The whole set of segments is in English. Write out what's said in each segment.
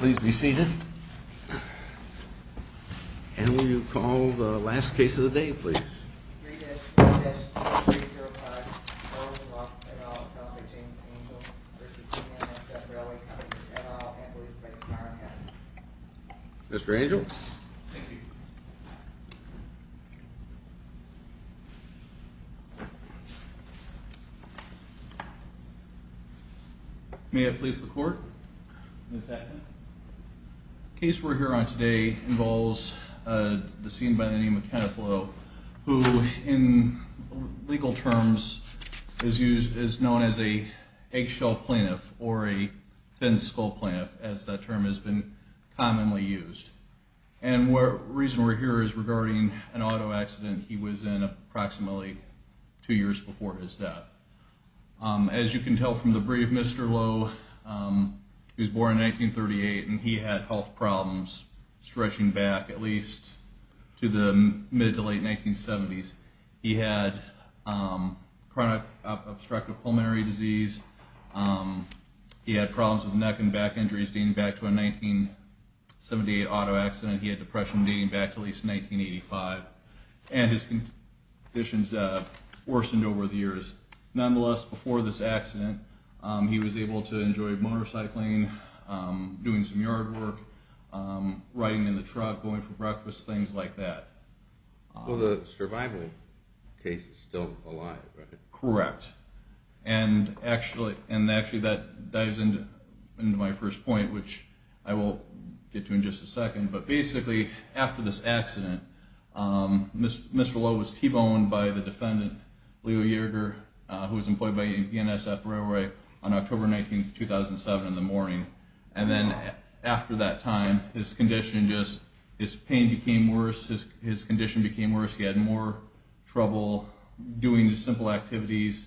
Please be seated. And will you call the last case of the day, please? BDSH 3305, Bower v. Bough v. Udall, C.J. Angel v. BNSF Ry. Co. v. Udall, and B.S. Price v. Ironhead. Mr. Angel? Thank you. May it please the Court? Yes, Your Honor. The case we're here on today involves a deceased by the name of Kenneth Lough, who in legal terms is known as an eggshell plaintiff or a thin-skulled plaintiff, as that term has been commonly used. And the reason we're here is regarding an auto accident he was in approximately two years before his death. As you can tell from the brief, Mr. Lough was born in 1938, and he had health problems stretching back at least to the mid to late 1970s. He had chronic obstructive pulmonary disease. He had problems with neck and back injuries dating back to a 1978 auto accident. He had depression dating back to at least 1985. And his conditions worsened over the years. Nonetheless, before this accident, he was able to enjoy motorcycling, doing some yard work, riding in the truck, going for breakfast, things like that. Well, the survival case is still alive, right? Correct. And actually that dives into my first point, which I will get to in just a second. But basically, after this accident, Mr. Lough was T-boned by the defendant, Leo Yerger, who was employed by UNSF Railway on October 19, 2007, in the morning. And then after that time, his condition just – his pain became worse. His condition became worse. He had more trouble doing simple activities.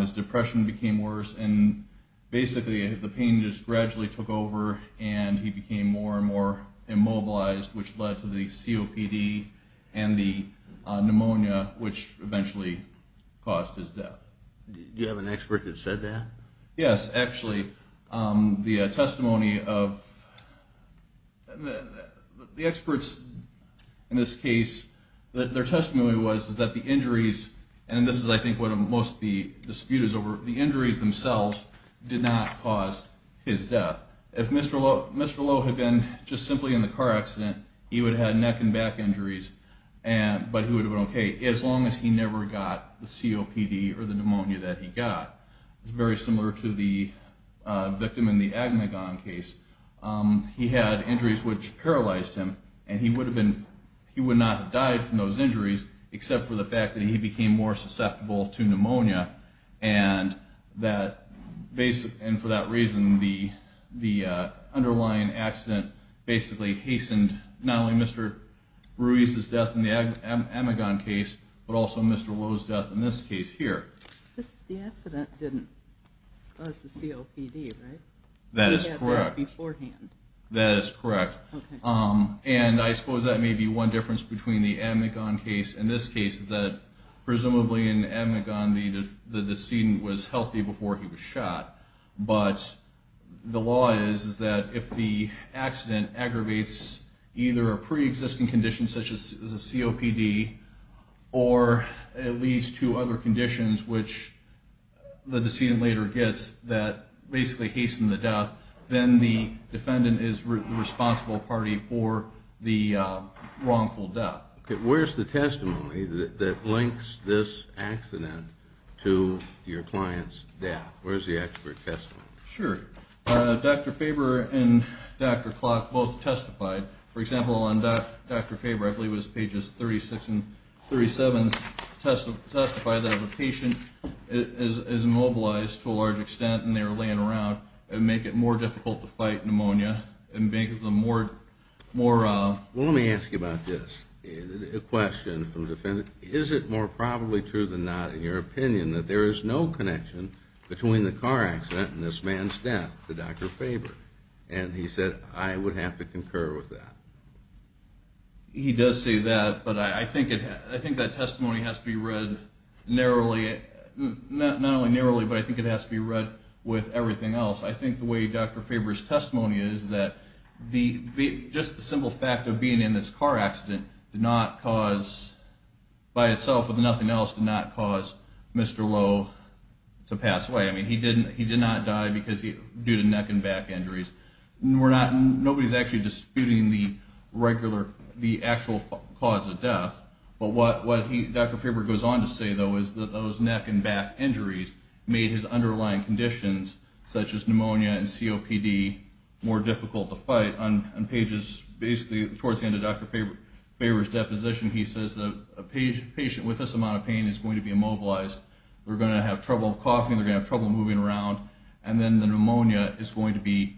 His depression became worse. And basically the pain just gradually took over, and he became more and more immobilized, which led to the COPD and the pneumonia, which eventually caused his death. Do you have an expert that said that? Yes, actually. The testimony of the experts in this case, their testimony was that the injuries – and this is, I think, what most of the dispute is over – the injuries themselves did not cause his death. If Mr. Lough had been just simply in the car accident, he would have had neck and back injuries, but he would have been okay as long as he never got the COPD or the pneumonia that he got. It's very similar to the victim in the Agmagon case. He had injuries which paralyzed him, and he would not have died from those injuries except for the fact that he became more susceptible to pneumonia. And for that reason, the underlying accident basically hastened not only Mr. Ruiz's death in the Agmagon case, but also Mr. Lough's death in this case here. The accident didn't cause the COPD, right? That is correct. He had that beforehand. That is correct. And I suppose that may be one difference between the Agmagon case and this case, that presumably in the Agmagon, the decedent was healthy before he was shot. But the law is that if the accident aggravates either a pre-existing condition such as a COPD or at least two other conditions which the decedent later gets that basically hasten the death, then the defendant is the responsible party for the wrongful death. Okay. Where's the testimony that links this accident to your client's death? Where's the expert testimony? Sure. Dr. Faber and Dr. Clark both testified. For example, on Dr. Faber, I believe it was pages 36 and 37, testified that the patient is immobilized to a large extent, and they were laying around and make it more difficult to fight pneumonia and make them more... Well, let me ask you about this. A question from the defendant. Is it more probably true than not in your opinion that there is no connection between the car accident and this man's death to Dr. Faber? And he said, I would have to concur with that. He does say that, but I think that testimony has to be read narrowly. Not only narrowly, but I think it has to be read with everything else. I think the way Dr. Faber's testimony is that just the simple fact of being in this car accident did not cause, by itself, if nothing else, did not cause Mr. Lowe to pass away. I mean, he did not die due to neck and back injuries. Nobody's actually disputing the actual cause of death. But what Dr. Faber goes on to say, though, is that those neck and back injuries made his underlying conditions, such as pneumonia and COPD, more difficult to fight. On pages basically towards the end of Dr. Faber's deposition, he says that a patient with this amount of pain is going to be immobilized, they're going to have trouble coughing, they're going to have trouble moving around, and then the pneumonia is going to be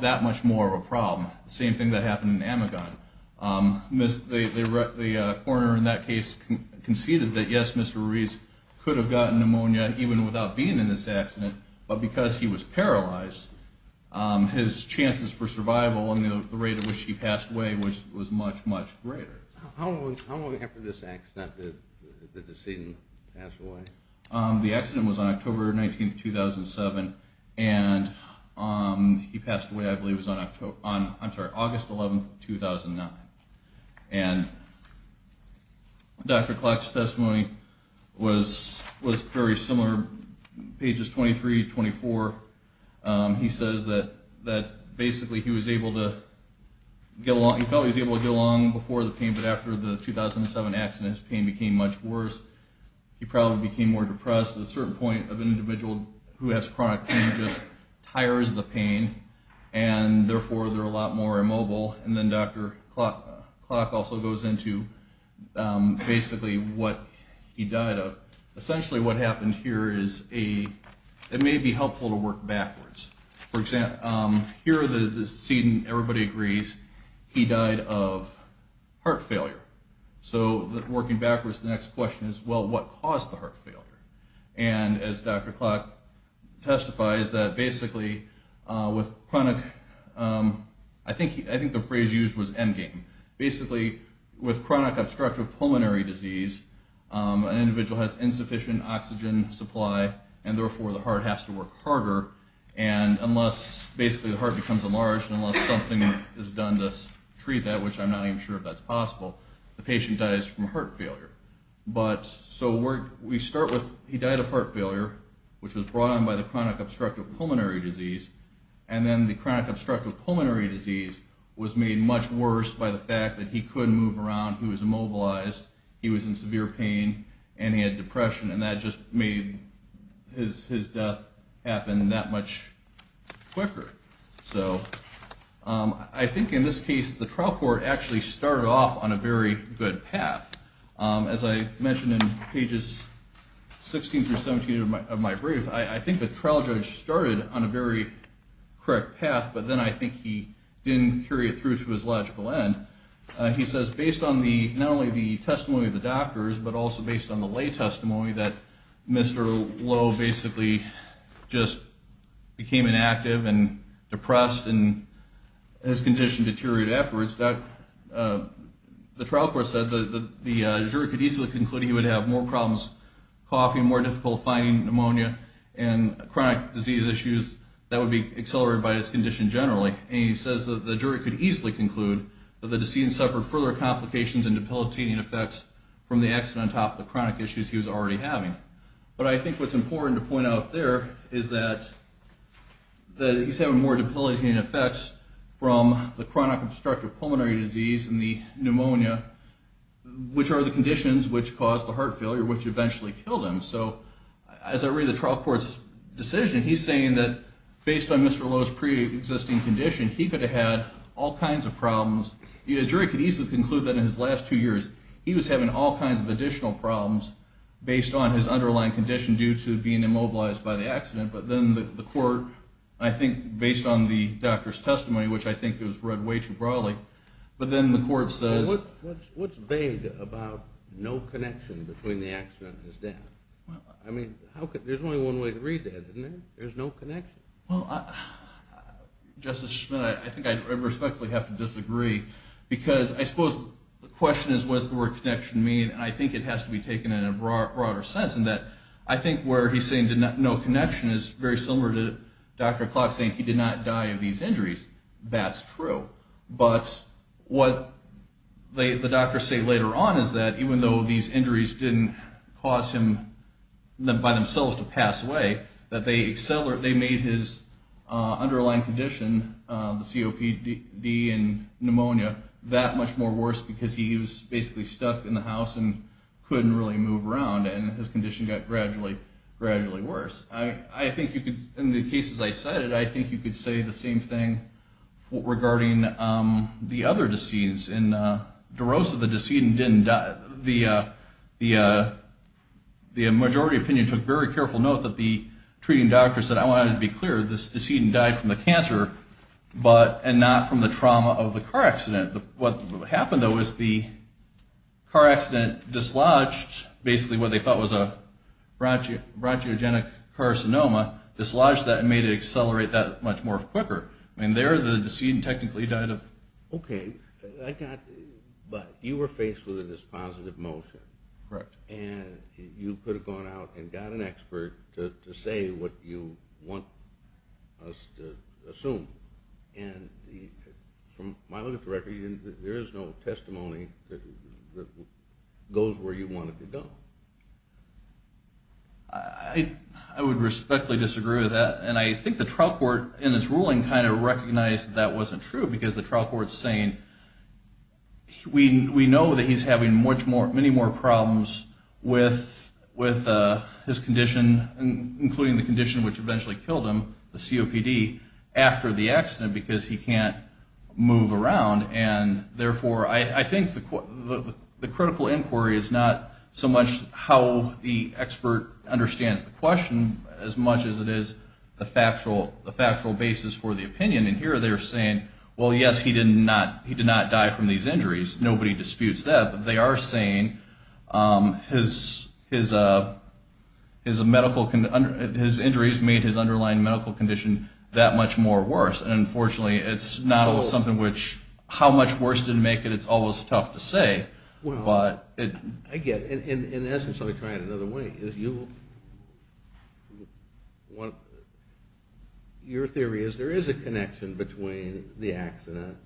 that much more of a problem. The same thing that happened in Amagon. The coroner in that case conceded that, yes, Mr. Ruiz could have gotten pneumonia even without being in this accident, but because he was paralyzed, his chances for survival and the rate at which he passed away was much, much greater. How long after this accident did the decedent pass away? The accident was on October 19, 2007, and he passed away, I believe, on August 11, 2009. And Dr. Clark's testimony was very similar, pages 23 to 24. He says that basically he felt he was able to get along before the pain, but after the 2007 accident his pain became much worse. He probably became more depressed to a certain point of an individual who has chronic pain just tires the pain, and therefore they're a lot more immobile. And then Dr. Clark also goes into basically what he died of. Essentially what happened here is it may be helpful to work backwards. For example, here the decedent, everybody agrees, he died of heart failure. So working backwards, the next question is, well, what caused the heart failure? And as Dr. Clark testifies, that basically with chronic, I think the phrase used was endgame. Basically with chronic obstructive pulmonary disease, an individual has insufficient oxygen supply, and therefore the heart has to work harder. And unless basically the heart becomes enlarged and unless something is done to treat that, which I'm not even sure if that's possible, the patient dies from heart failure. So we start with he died of heart failure, which was brought on by the chronic obstructive pulmonary disease, and then the chronic obstructive pulmonary disease was made much worse by the fact that he couldn't move around, he was immobilized, he was in severe pain, and he had depression. And that just made his death happen that much quicker. So I think in this case the trial court actually started off on a very good path. As I mentioned in pages 16 through 17 of my brief, I think the trial judge started on a very correct path, but then I think he didn't carry it through to his logical end. He says based on not only the testimony of the doctors, but also based on the lay testimony that Mr. Lowe basically just became inactive and depressed and his condition deteriorated afterwards, the trial court said the jury could easily conclude he would have more problems coughing, more difficult finding pneumonia, and chronic disease issues that would be accelerated by his condition generally. And he says the jury could easily conclude that the decedent suffered further complications and debilitating effects from the accident on top of the chronic issues he was already having. But I think what's important to point out there is that he's having more debilitating effects from the chronic obstructive pulmonary disease and the pneumonia, which are the conditions which caused the heart failure, which eventually killed him. So as I read the trial court's decision, he's saying that based on Mr. Lowe's preexisting condition, he could have had all kinds of problems. The jury could easily conclude that in his last two years, he was having all kinds of additional problems based on his underlying condition due to being immobilized by the accident. But then the court, I think based on the doctor's testimony, which I think was read way too broadly, but then the court says... What's vague about no connection between the accident and his death? I mean, there's only one way to read that, isn't there? There's no connection. Well, Justice Schmitt, I think I respectfully have to disagree because I suppose the question is what does the word connection mean? And I think it has to be taken in a broader sense in that I think where he's saying no connection is very similar to Dr. Klotz saying he did not die of these injuries. That's true. But what the doctors say later on is that even though these injuries didn't cause him by themselves to pass away, that they made his underlying condition, the COPD and pneumonia, that much more worse because he was basically stuck in the house and couldn't really move around and his condition got gradually worse. In the cases I cited, I think you could say the same thing regarding the other decedents. In DeRosa, the majority opinion took very careful note that the treating doctor said, I wanted to be clear, this decedent died from the cancer and not from the trauma of the car accident. What happened, though, is the car accident dislodged basically what they thought was a bronchogenic carcinoma, dislodged that and made it accelerate that much more quicker. I mean, there the decedent technically died of. Okay. But you were faced with this positive motion. Correct. And you could have gone out and got an expert to say what you want us to assume. And from my look at the record, there is no testimony that goes where you want it to go. I would respectfully disagree with that. And I think the trial court in its ruling kind of recognized that that wasn't true because the trial court is saying we know that he's having many more problems with his condition, including the condition which eventually killed him, the COPD, after the accident because he can't move around. And therefore, I think the critical inquiry is not so much how the expert understands the question as much as it is the factual basis for the opinion. And here they're saying, well, yes, he did not die from these injuries. Nobody disputes that. They are saying his injuries made his underlying medical condition that much more worse. And, unfortunately, it's not always something which how much worse didn't make it, it's always tough to say. I get it. In essence, I would try it another way. Your theory is there is a connection between the accident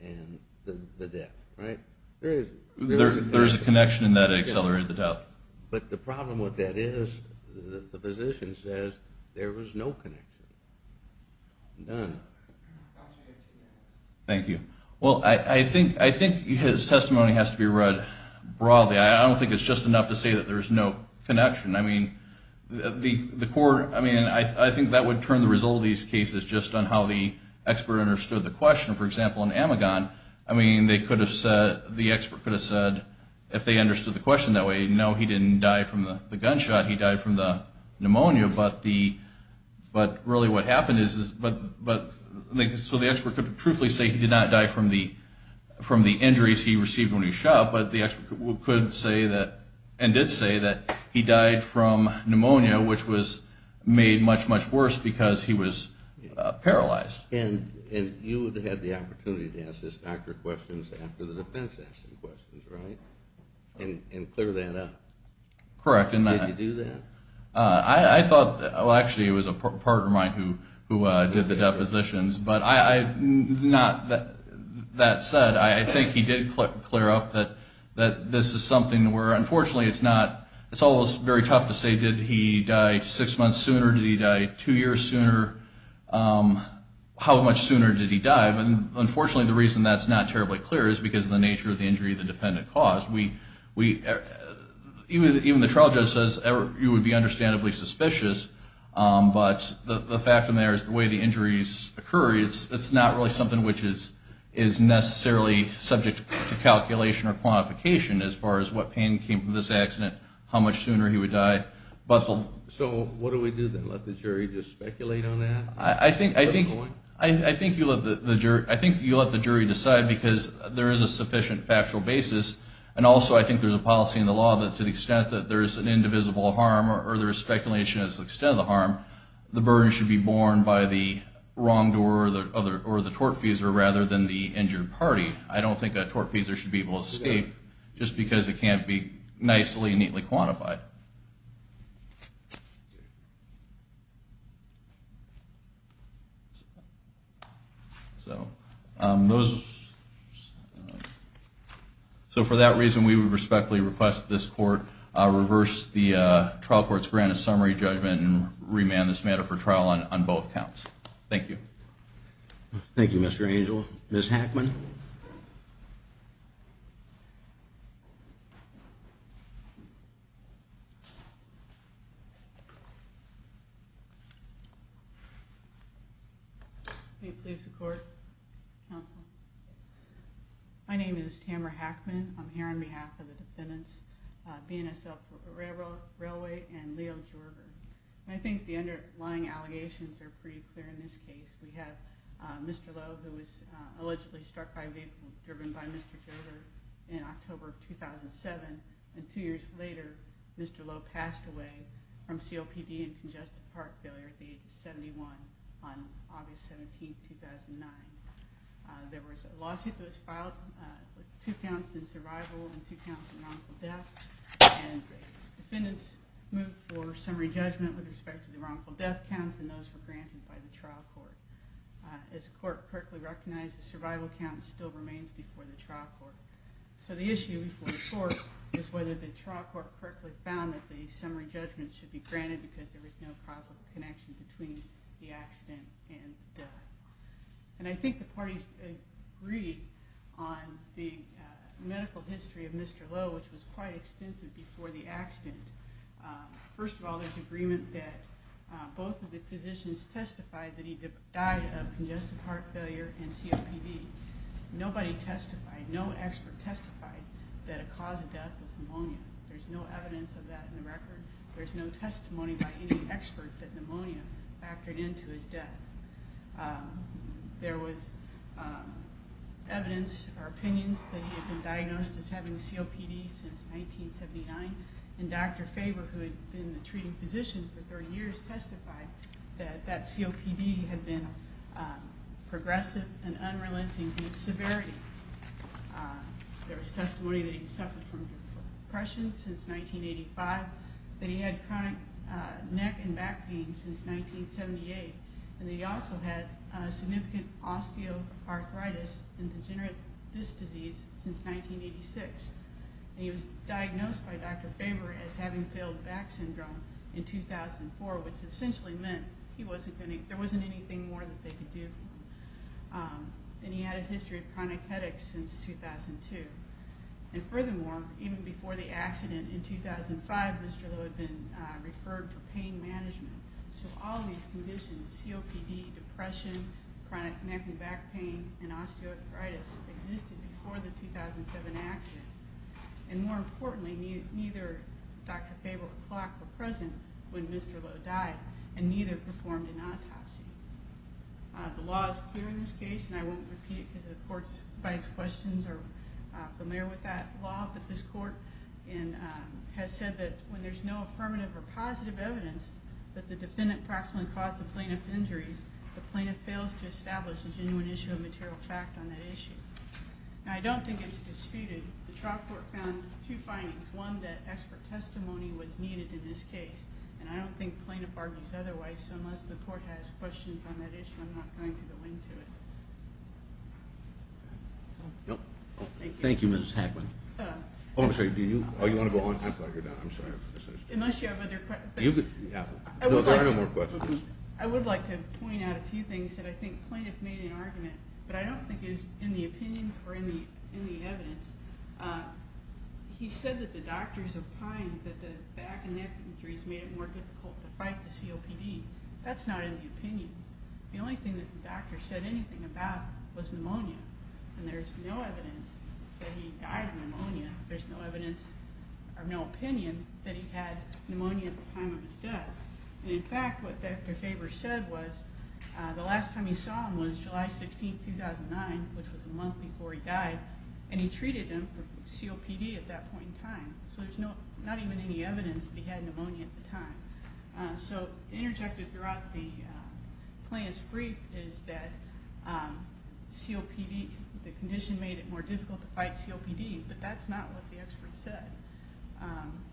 and the death, right? There is a connection in that it accelerated the death. But the problem with that is the physician says there was no connection, none. Thank you. Well, I think his testimony has to be read broadly. I don't think it's just enough to say that there's no connection. I think that would turn the result of these cases just on how the expert understood the question. For example, in Amagon, I mean, they could have said, the expert could have said, if they understood the question that way, no, he didn't die from the gunshot, he died from the pneumonia. But really what happened is, so the expert could truthfully say he did not die from the injuries he received when he shot, but the expert could say that, and did say that he died from pneumonia, which was made much, much worse because he was paralyzed. And you would have had the opportunity to ask this doctor questions after the defense asked the questions, right? And clear that up. Correct. Did you do that? I thought, well, actually, it was a partner of mine who did the depositions. But that said, I think he did clear up that this is something where, unfortunately, it's not, it's almost very tough to say, did he die six months sooner, did he die two years sooner, how much sooner did he die? But unfortunately, the reason that's not terribly clear is because of the nature of the injury the defendant caused. Even the trial judge says you would be understandably suspicious, but the fact in there is the way the injuries occur, it's not really something which is necessarily subject to calculation or quantification as far as what pain came from this accident, how much sooner he would die. So what do we do, then, let the jury just speculate on that? I think you let the jury decide because there is a sufficient factual basis, and also I think there's a policy in the law that to the extent that there's an indivisible harm or there's speculation as to the extent of the harm, the burden should be borne by the wrongdoer or the tortfeasor rather than the injured party. I don't think a tortfeasor should be able to escape just because it can't be nicely, neatly quantified. So for that reason, we would respectfully request this court reverse the trial court's grant of summary judgment and remand this matter for trial on both counts. Thank you. Thank you, Mr. Angel. Ms. Hackman. May it please the court, counsel. My name is Tamara Hackman. I'm here on behalf of the defendants, BNSF Railway and Leo Jorger. I think the underlying allegations are pretty clear in this case. We have Mr. Lowe, who was allegedly struck by a vehicle driven by Mr. Jorger in October of 2007, and two years later, Mr. Lowe passed away from COPD and congestive heart failure at the age of 71 on August 17, 2009. There was a lawsuit that was filed with two counts in survival and two counts of noncommittal death, and defendants moved for summary judgment with respect to the wrongful death counts, and those were granted by the trial court. As the court correctly recognized, the survival count still remains before the trial court. So the issue before the court is whether the trial court correctly found that the summary judgment should be granted because there was no causal connection between the accident and the death. And I think the parties agreed on the medical history of Mr. Lowe, which was quite extensive before the accident. First of all, there's agreement that both of the physicians testified that he died of congestive heart failure and COPD. Nobody testified, no expert testified that a cause of death was pneumonia. There's no evidence of that in the record. There's no testimony by any expert that pneumonia factored into his death. There was evidence or opinions that he had been diagnosed as having COPD since 1979, and Dr. Faber, who had been the treating physician for 30 years, testified that that COPD had been progressive and unrelenting in its severity. There was testimony that he suffered from depression since 1985, that he had chronic neck and back pain since 1978, and that he also had significant osteoarthritis and degenerative disc disease since 1986. And he was diagnosed by Dr. Faber as having failed back syndrome in 2004, which essentially meant there wasn't anything more that they could do for him. And he had a history of chronic headaches since 2002. And furthermore, even before the accident in 2005, Mr. Lowe had been referred for pain management. So all of these conditions, COPD, depression, chronic neck and back pain, and osteoarthritis, existed before the 2007 accident. And more importantly, neither Dr. Faber or Clark were present when Mr. Lowe died, and neither performed an autopsy. The law is clear in this case, and I won't repeat it because the court's questions are familiar with that law, but this court has said that when there's no affirmative or positive evidence that the defendant proximately caused the plaintiff injuries, the plaintiff fails to establish a genuine issue of material fact on that issue. And I don't think it's disputed. The trial court found two findings. One, that expert testimony was needed in this case. And I don't think plaintiff argues otherwise. So unless the court has questions on that issue, I'm not going to go into it. Thank you, Mrs. Hagman. Oh, I'm sorry. Do you want to go on? I thought you were done. I'm sorry. Unless you have other questions. No, there are no more questions. I would like to point out a few things that I think plaintiff made in argument, but I don't think is in the opinions or in the evidence. He said that the doctors opined that the back and neck injuries made it more difficult to fight the COPD. That's not in the opinions. The only thing that the doctor said anything about was pneumonia, and there's no evidence that he died of pneumonia. There's no evidence or no opinion that he had pneumonia at the time of his death. And in fact, what Dr. Faber said was the last time he saw him was July 16, 2009, which was a month before he died, and he treated him for COPD at that point in time. So there's not even any evidence that he had pneumonia at the time. So interjected throughout the plaintiff's brief is that COPD, the condition made it more difficult to fight COPD, but that's not what the expert said.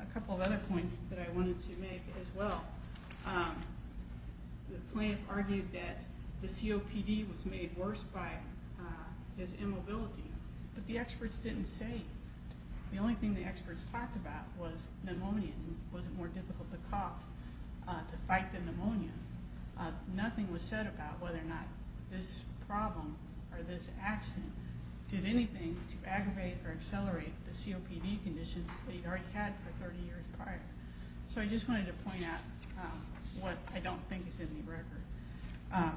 A couple of other points that I wanted to make as well. The plaintiff argued that the COPD was made worse by his immobility, but the experts didn't say. The only thing the experts talked about was pneumonia and was it more difficult to cough to fight the pneumonia. Nothing was said about whether or not this problem or this accident did anything to aggravate or accelerate the COPD condition that he'd already had for 30 years prior. So I just wanted to point out what I don't think is in the record.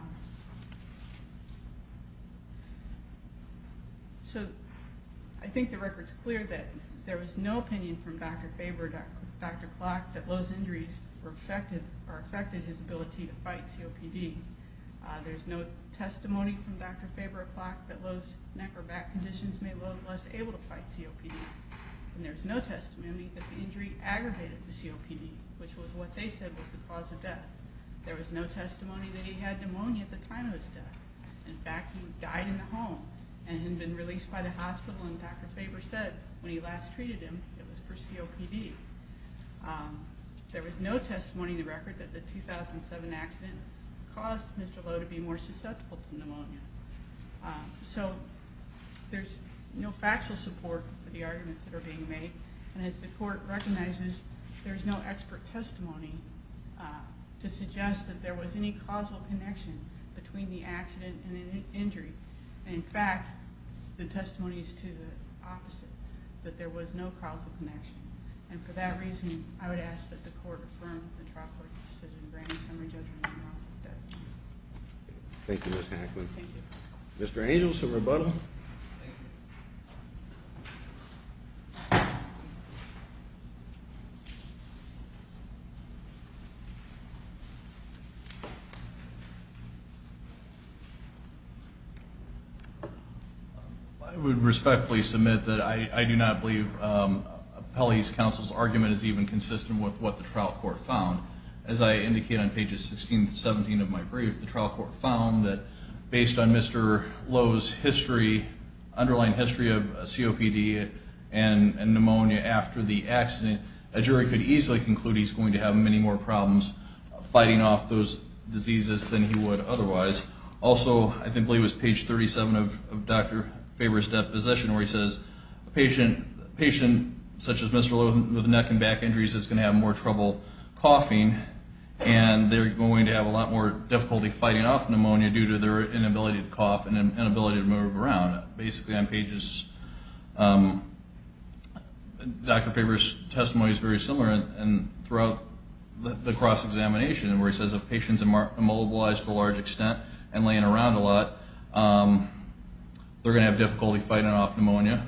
So I think the record's clear that there was no opinion from Dr. Faber or Dr. Klock that Lowe's injuries affected his ability to fight COPD. There's no testimony from Dr. Faber or Klock that Lowe's neck or back conditions made Lowe less able to fight COPD. And there's no testimony that the injury aggravated the COPD, which was what they said was the cause of death. There was no testimony that he had pneumonia at the time of his death. In fact, he died in the home and had been released by the hospital, and Dr. Faber said when he last treated him it was for COPD. There was no testimony in the record that the 2007 accident caused Mr. Lowe to be more susceptible to pneumonia. So there's no factual support for the arguments that are being made, and as the court recognizes, there's no expert testimony to suggest that there was any causal connection between the accident and the injury. In fact, the testimony is to the opposite, that there was no causal connection. And for that reason, I would ask that the court affirm the trial court's decision, granting summary judgment on Lowe's death. Thank you, Ms. Hackman. Thank you. Mr. Angel, some rebuttal? Thank you. I would respectfully submit that I do not believe Appellee's counsel's argument is even consistent with what the trial court found. As I indicate on pages 16 and 17 of my brief, the trial court found that based on Mr. Lowe's history, underlying history of COPD and pneumonia after the accident, a jury could easily conclude he's going to have many more problems fighting off those diseases than he would otherwise. Also, I believe it was page 37 of Dr. Faber's death position where he says, a patient such as Mr. Lowe with neck and back injuries is going to have more trouble coughing and they're going to have a lot more difficulty fighting off pneumonia due to their inability to cough and inability to move around. Basically, on pages, Dr. Faber's testimony is very similar, and throughout the cross-examination, where he says if a patient's immobilized to a large extent and laying around a lot, they're going to have difficulty fighting off pneumonia.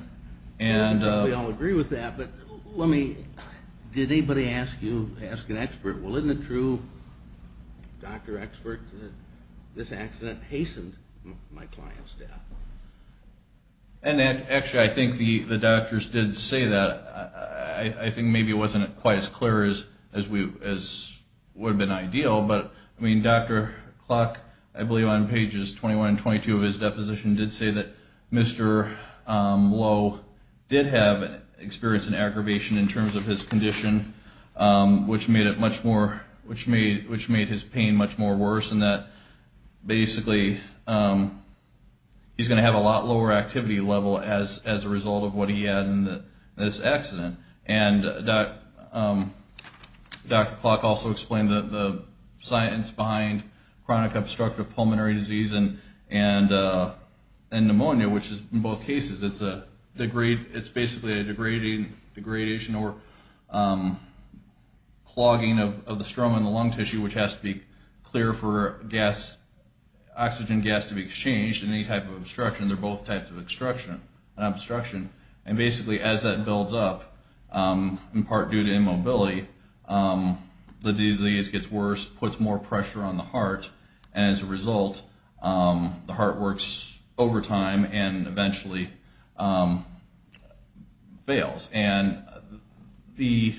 We all agree with that, but did anybody ask you, ask an expert, well, isn't it true, Dr. Expert, that this accident hastened my client's death? Actually, I think the doctors did say that. I think maybe it wasn't quite as clear as would have been ideal, but Dr. Klock, I believe on pages 21 and 22 of his deposition, did say that Mr. Lowe did have experience in aggravation in terms of his condition, which made his pain much more worse and that basically he's going to have a lot lower activity level as a result of what he had in this accident. And Dr. Klock also explained the science behind chronic obstructive pulmonary disease and pneumonia, which in both cases, it's basically a degradation or clogging of the stroma in the lung tissue, which has to be clear for oxygen gas to be exchanged in any type of obstruction. They're both types of obstruction. And basically, as that builds up, in part due to immobility, the disease gets worse, puts more pressure on the heart, and as a result, the heart works overtime and eventually fails. And the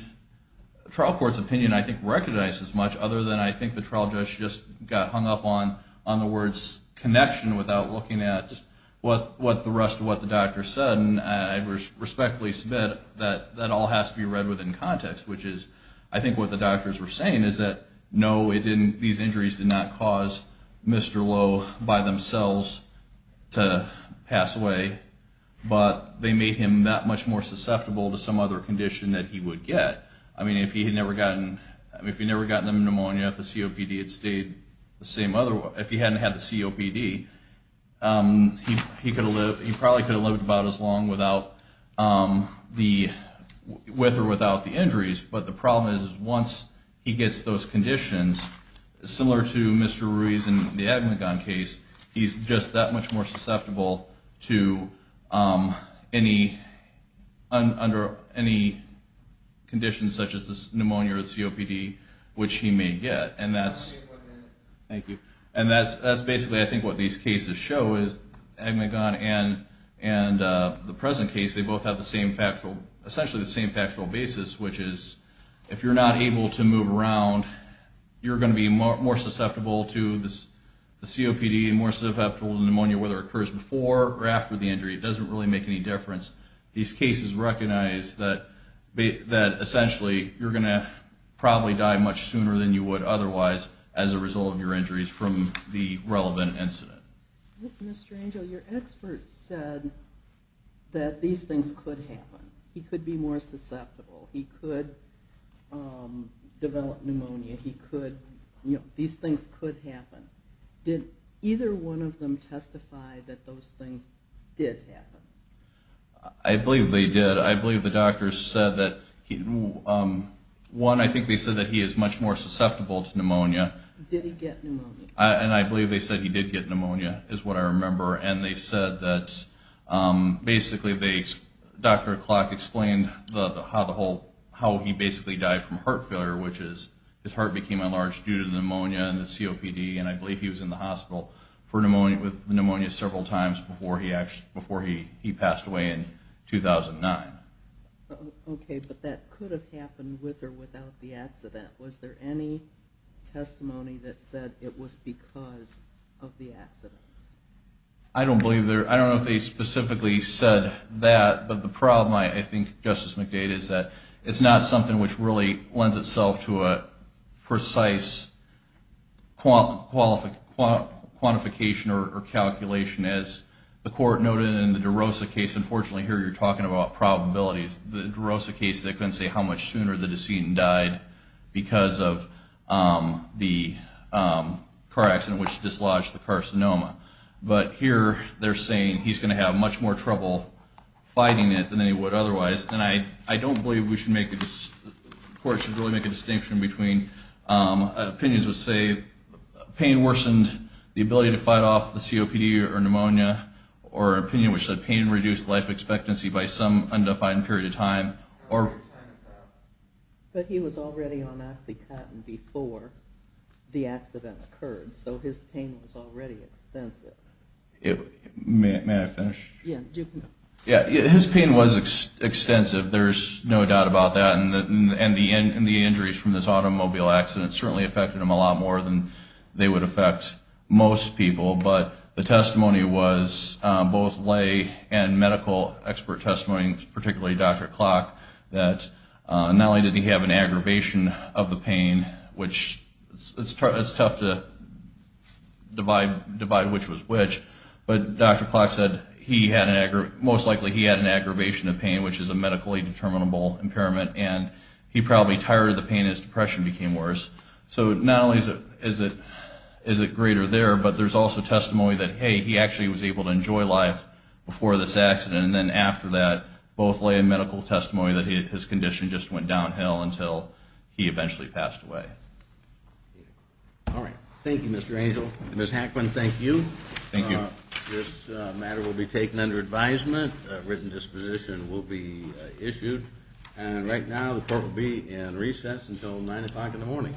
trial court's opinion, I think, recognized as much, other than I think the trial judge just got hung up on the words connection without looking at what the rest of what the doctor said, and I respectfully submit that that all has to be read within context, which is I think what the doctors were saying is that no, these injuries did not cause Mr. Lowe by themselves to pass away, but they made him that much more susceptible to some other condition that he would get. I mean, if he had never gotten pneumonia, if the COPD had stayed the same other way, if he hadn't had the COPD, he probably could have lived about as long with or without the injuries. But the problem is once he gets those conditions, similar to Mr. Ruiz in the admin gun case, he's just that much more susceptible to any conditions such as pneumonia or COPD, which he may get. And that's basically I think what these cases show is admin gun and the present case, they both have essentially the same factual basis, which is if you're not able to move around, you're going to be more susceptible to the COPD and more susceptible to pneumonia whether it occurs before or after the injury. It doesn't really make any difference. These cases recognize that essentially you're going to probably die much sooner than you would otherwise as a result of your injuries from the relevant incident. Mr. Angel, your expert said that these things could happen. He could be more susceptible. He could develop pneumonia. These things could happen. Did either one of them testify that those things did happen? I believe they did. I believe the doctors said that one, I think they said that he is much more susceptible to pneumonia. Did he get pneumonia? And they said that basically Dr. Clark explained how he basically died from heart failure, which is his heart became enlarged due to pneumonia and the COPD, and I believe he was in the hospital with pneumonia several times before he passed away in 2009. Okay, but that could have happened with or without the accident. Was there any testimony that said it was because of the accident? I don't know if they specifically said that, but the problem I think, Justice McDade, is that it's not something which really lends itself to a precise quantification or calculation. As the Court noted in the DeRosa case, unfortunately here you're talking about probabilities. The DeRosa case, they couldn't say how much sooner the decedent died because of the car accident, which dislodged the carcinoma. But here they're saying he's going to have much more trouble fighting it than he would otherwise, and I don't believe the Court should really make a distinction between opinions that say pain worsened the ability to fight off the COPD or pneumonia, or opinion which said pain reduced life expectancy by some undefined period of time. But he was already on OxyContin before the accident occurred, so his pain was already extensive. May I finish? His pain was extensive, there's no doubt about that, and the injuries from this automobile accident certainly affected him a lot more than they would affect most people, but the testimony was both lay and medical expert testimony, particularly Dr. Klock, that not only did he have an aggravation of the pain, which it's tough to divide which was which, but Dr. Klock said most likely he had an aggravation of pain, which is a medically determinable impairment, and he probably tired of the pain as depression became worse. So not only is it greater there, but there's also testimony that, hey, he actually was able to enjoy life before this accident, and then after that, both lay and medical testimony that his condition just went downhill until he eventually passed away. All right. Thank you, Mr. Angel. Ms. Hackman, thank you. Thank you. This matter will be taken under advisement, a written disposition will be issued, and right now the court will be in recess until 9 o'clock in the morning.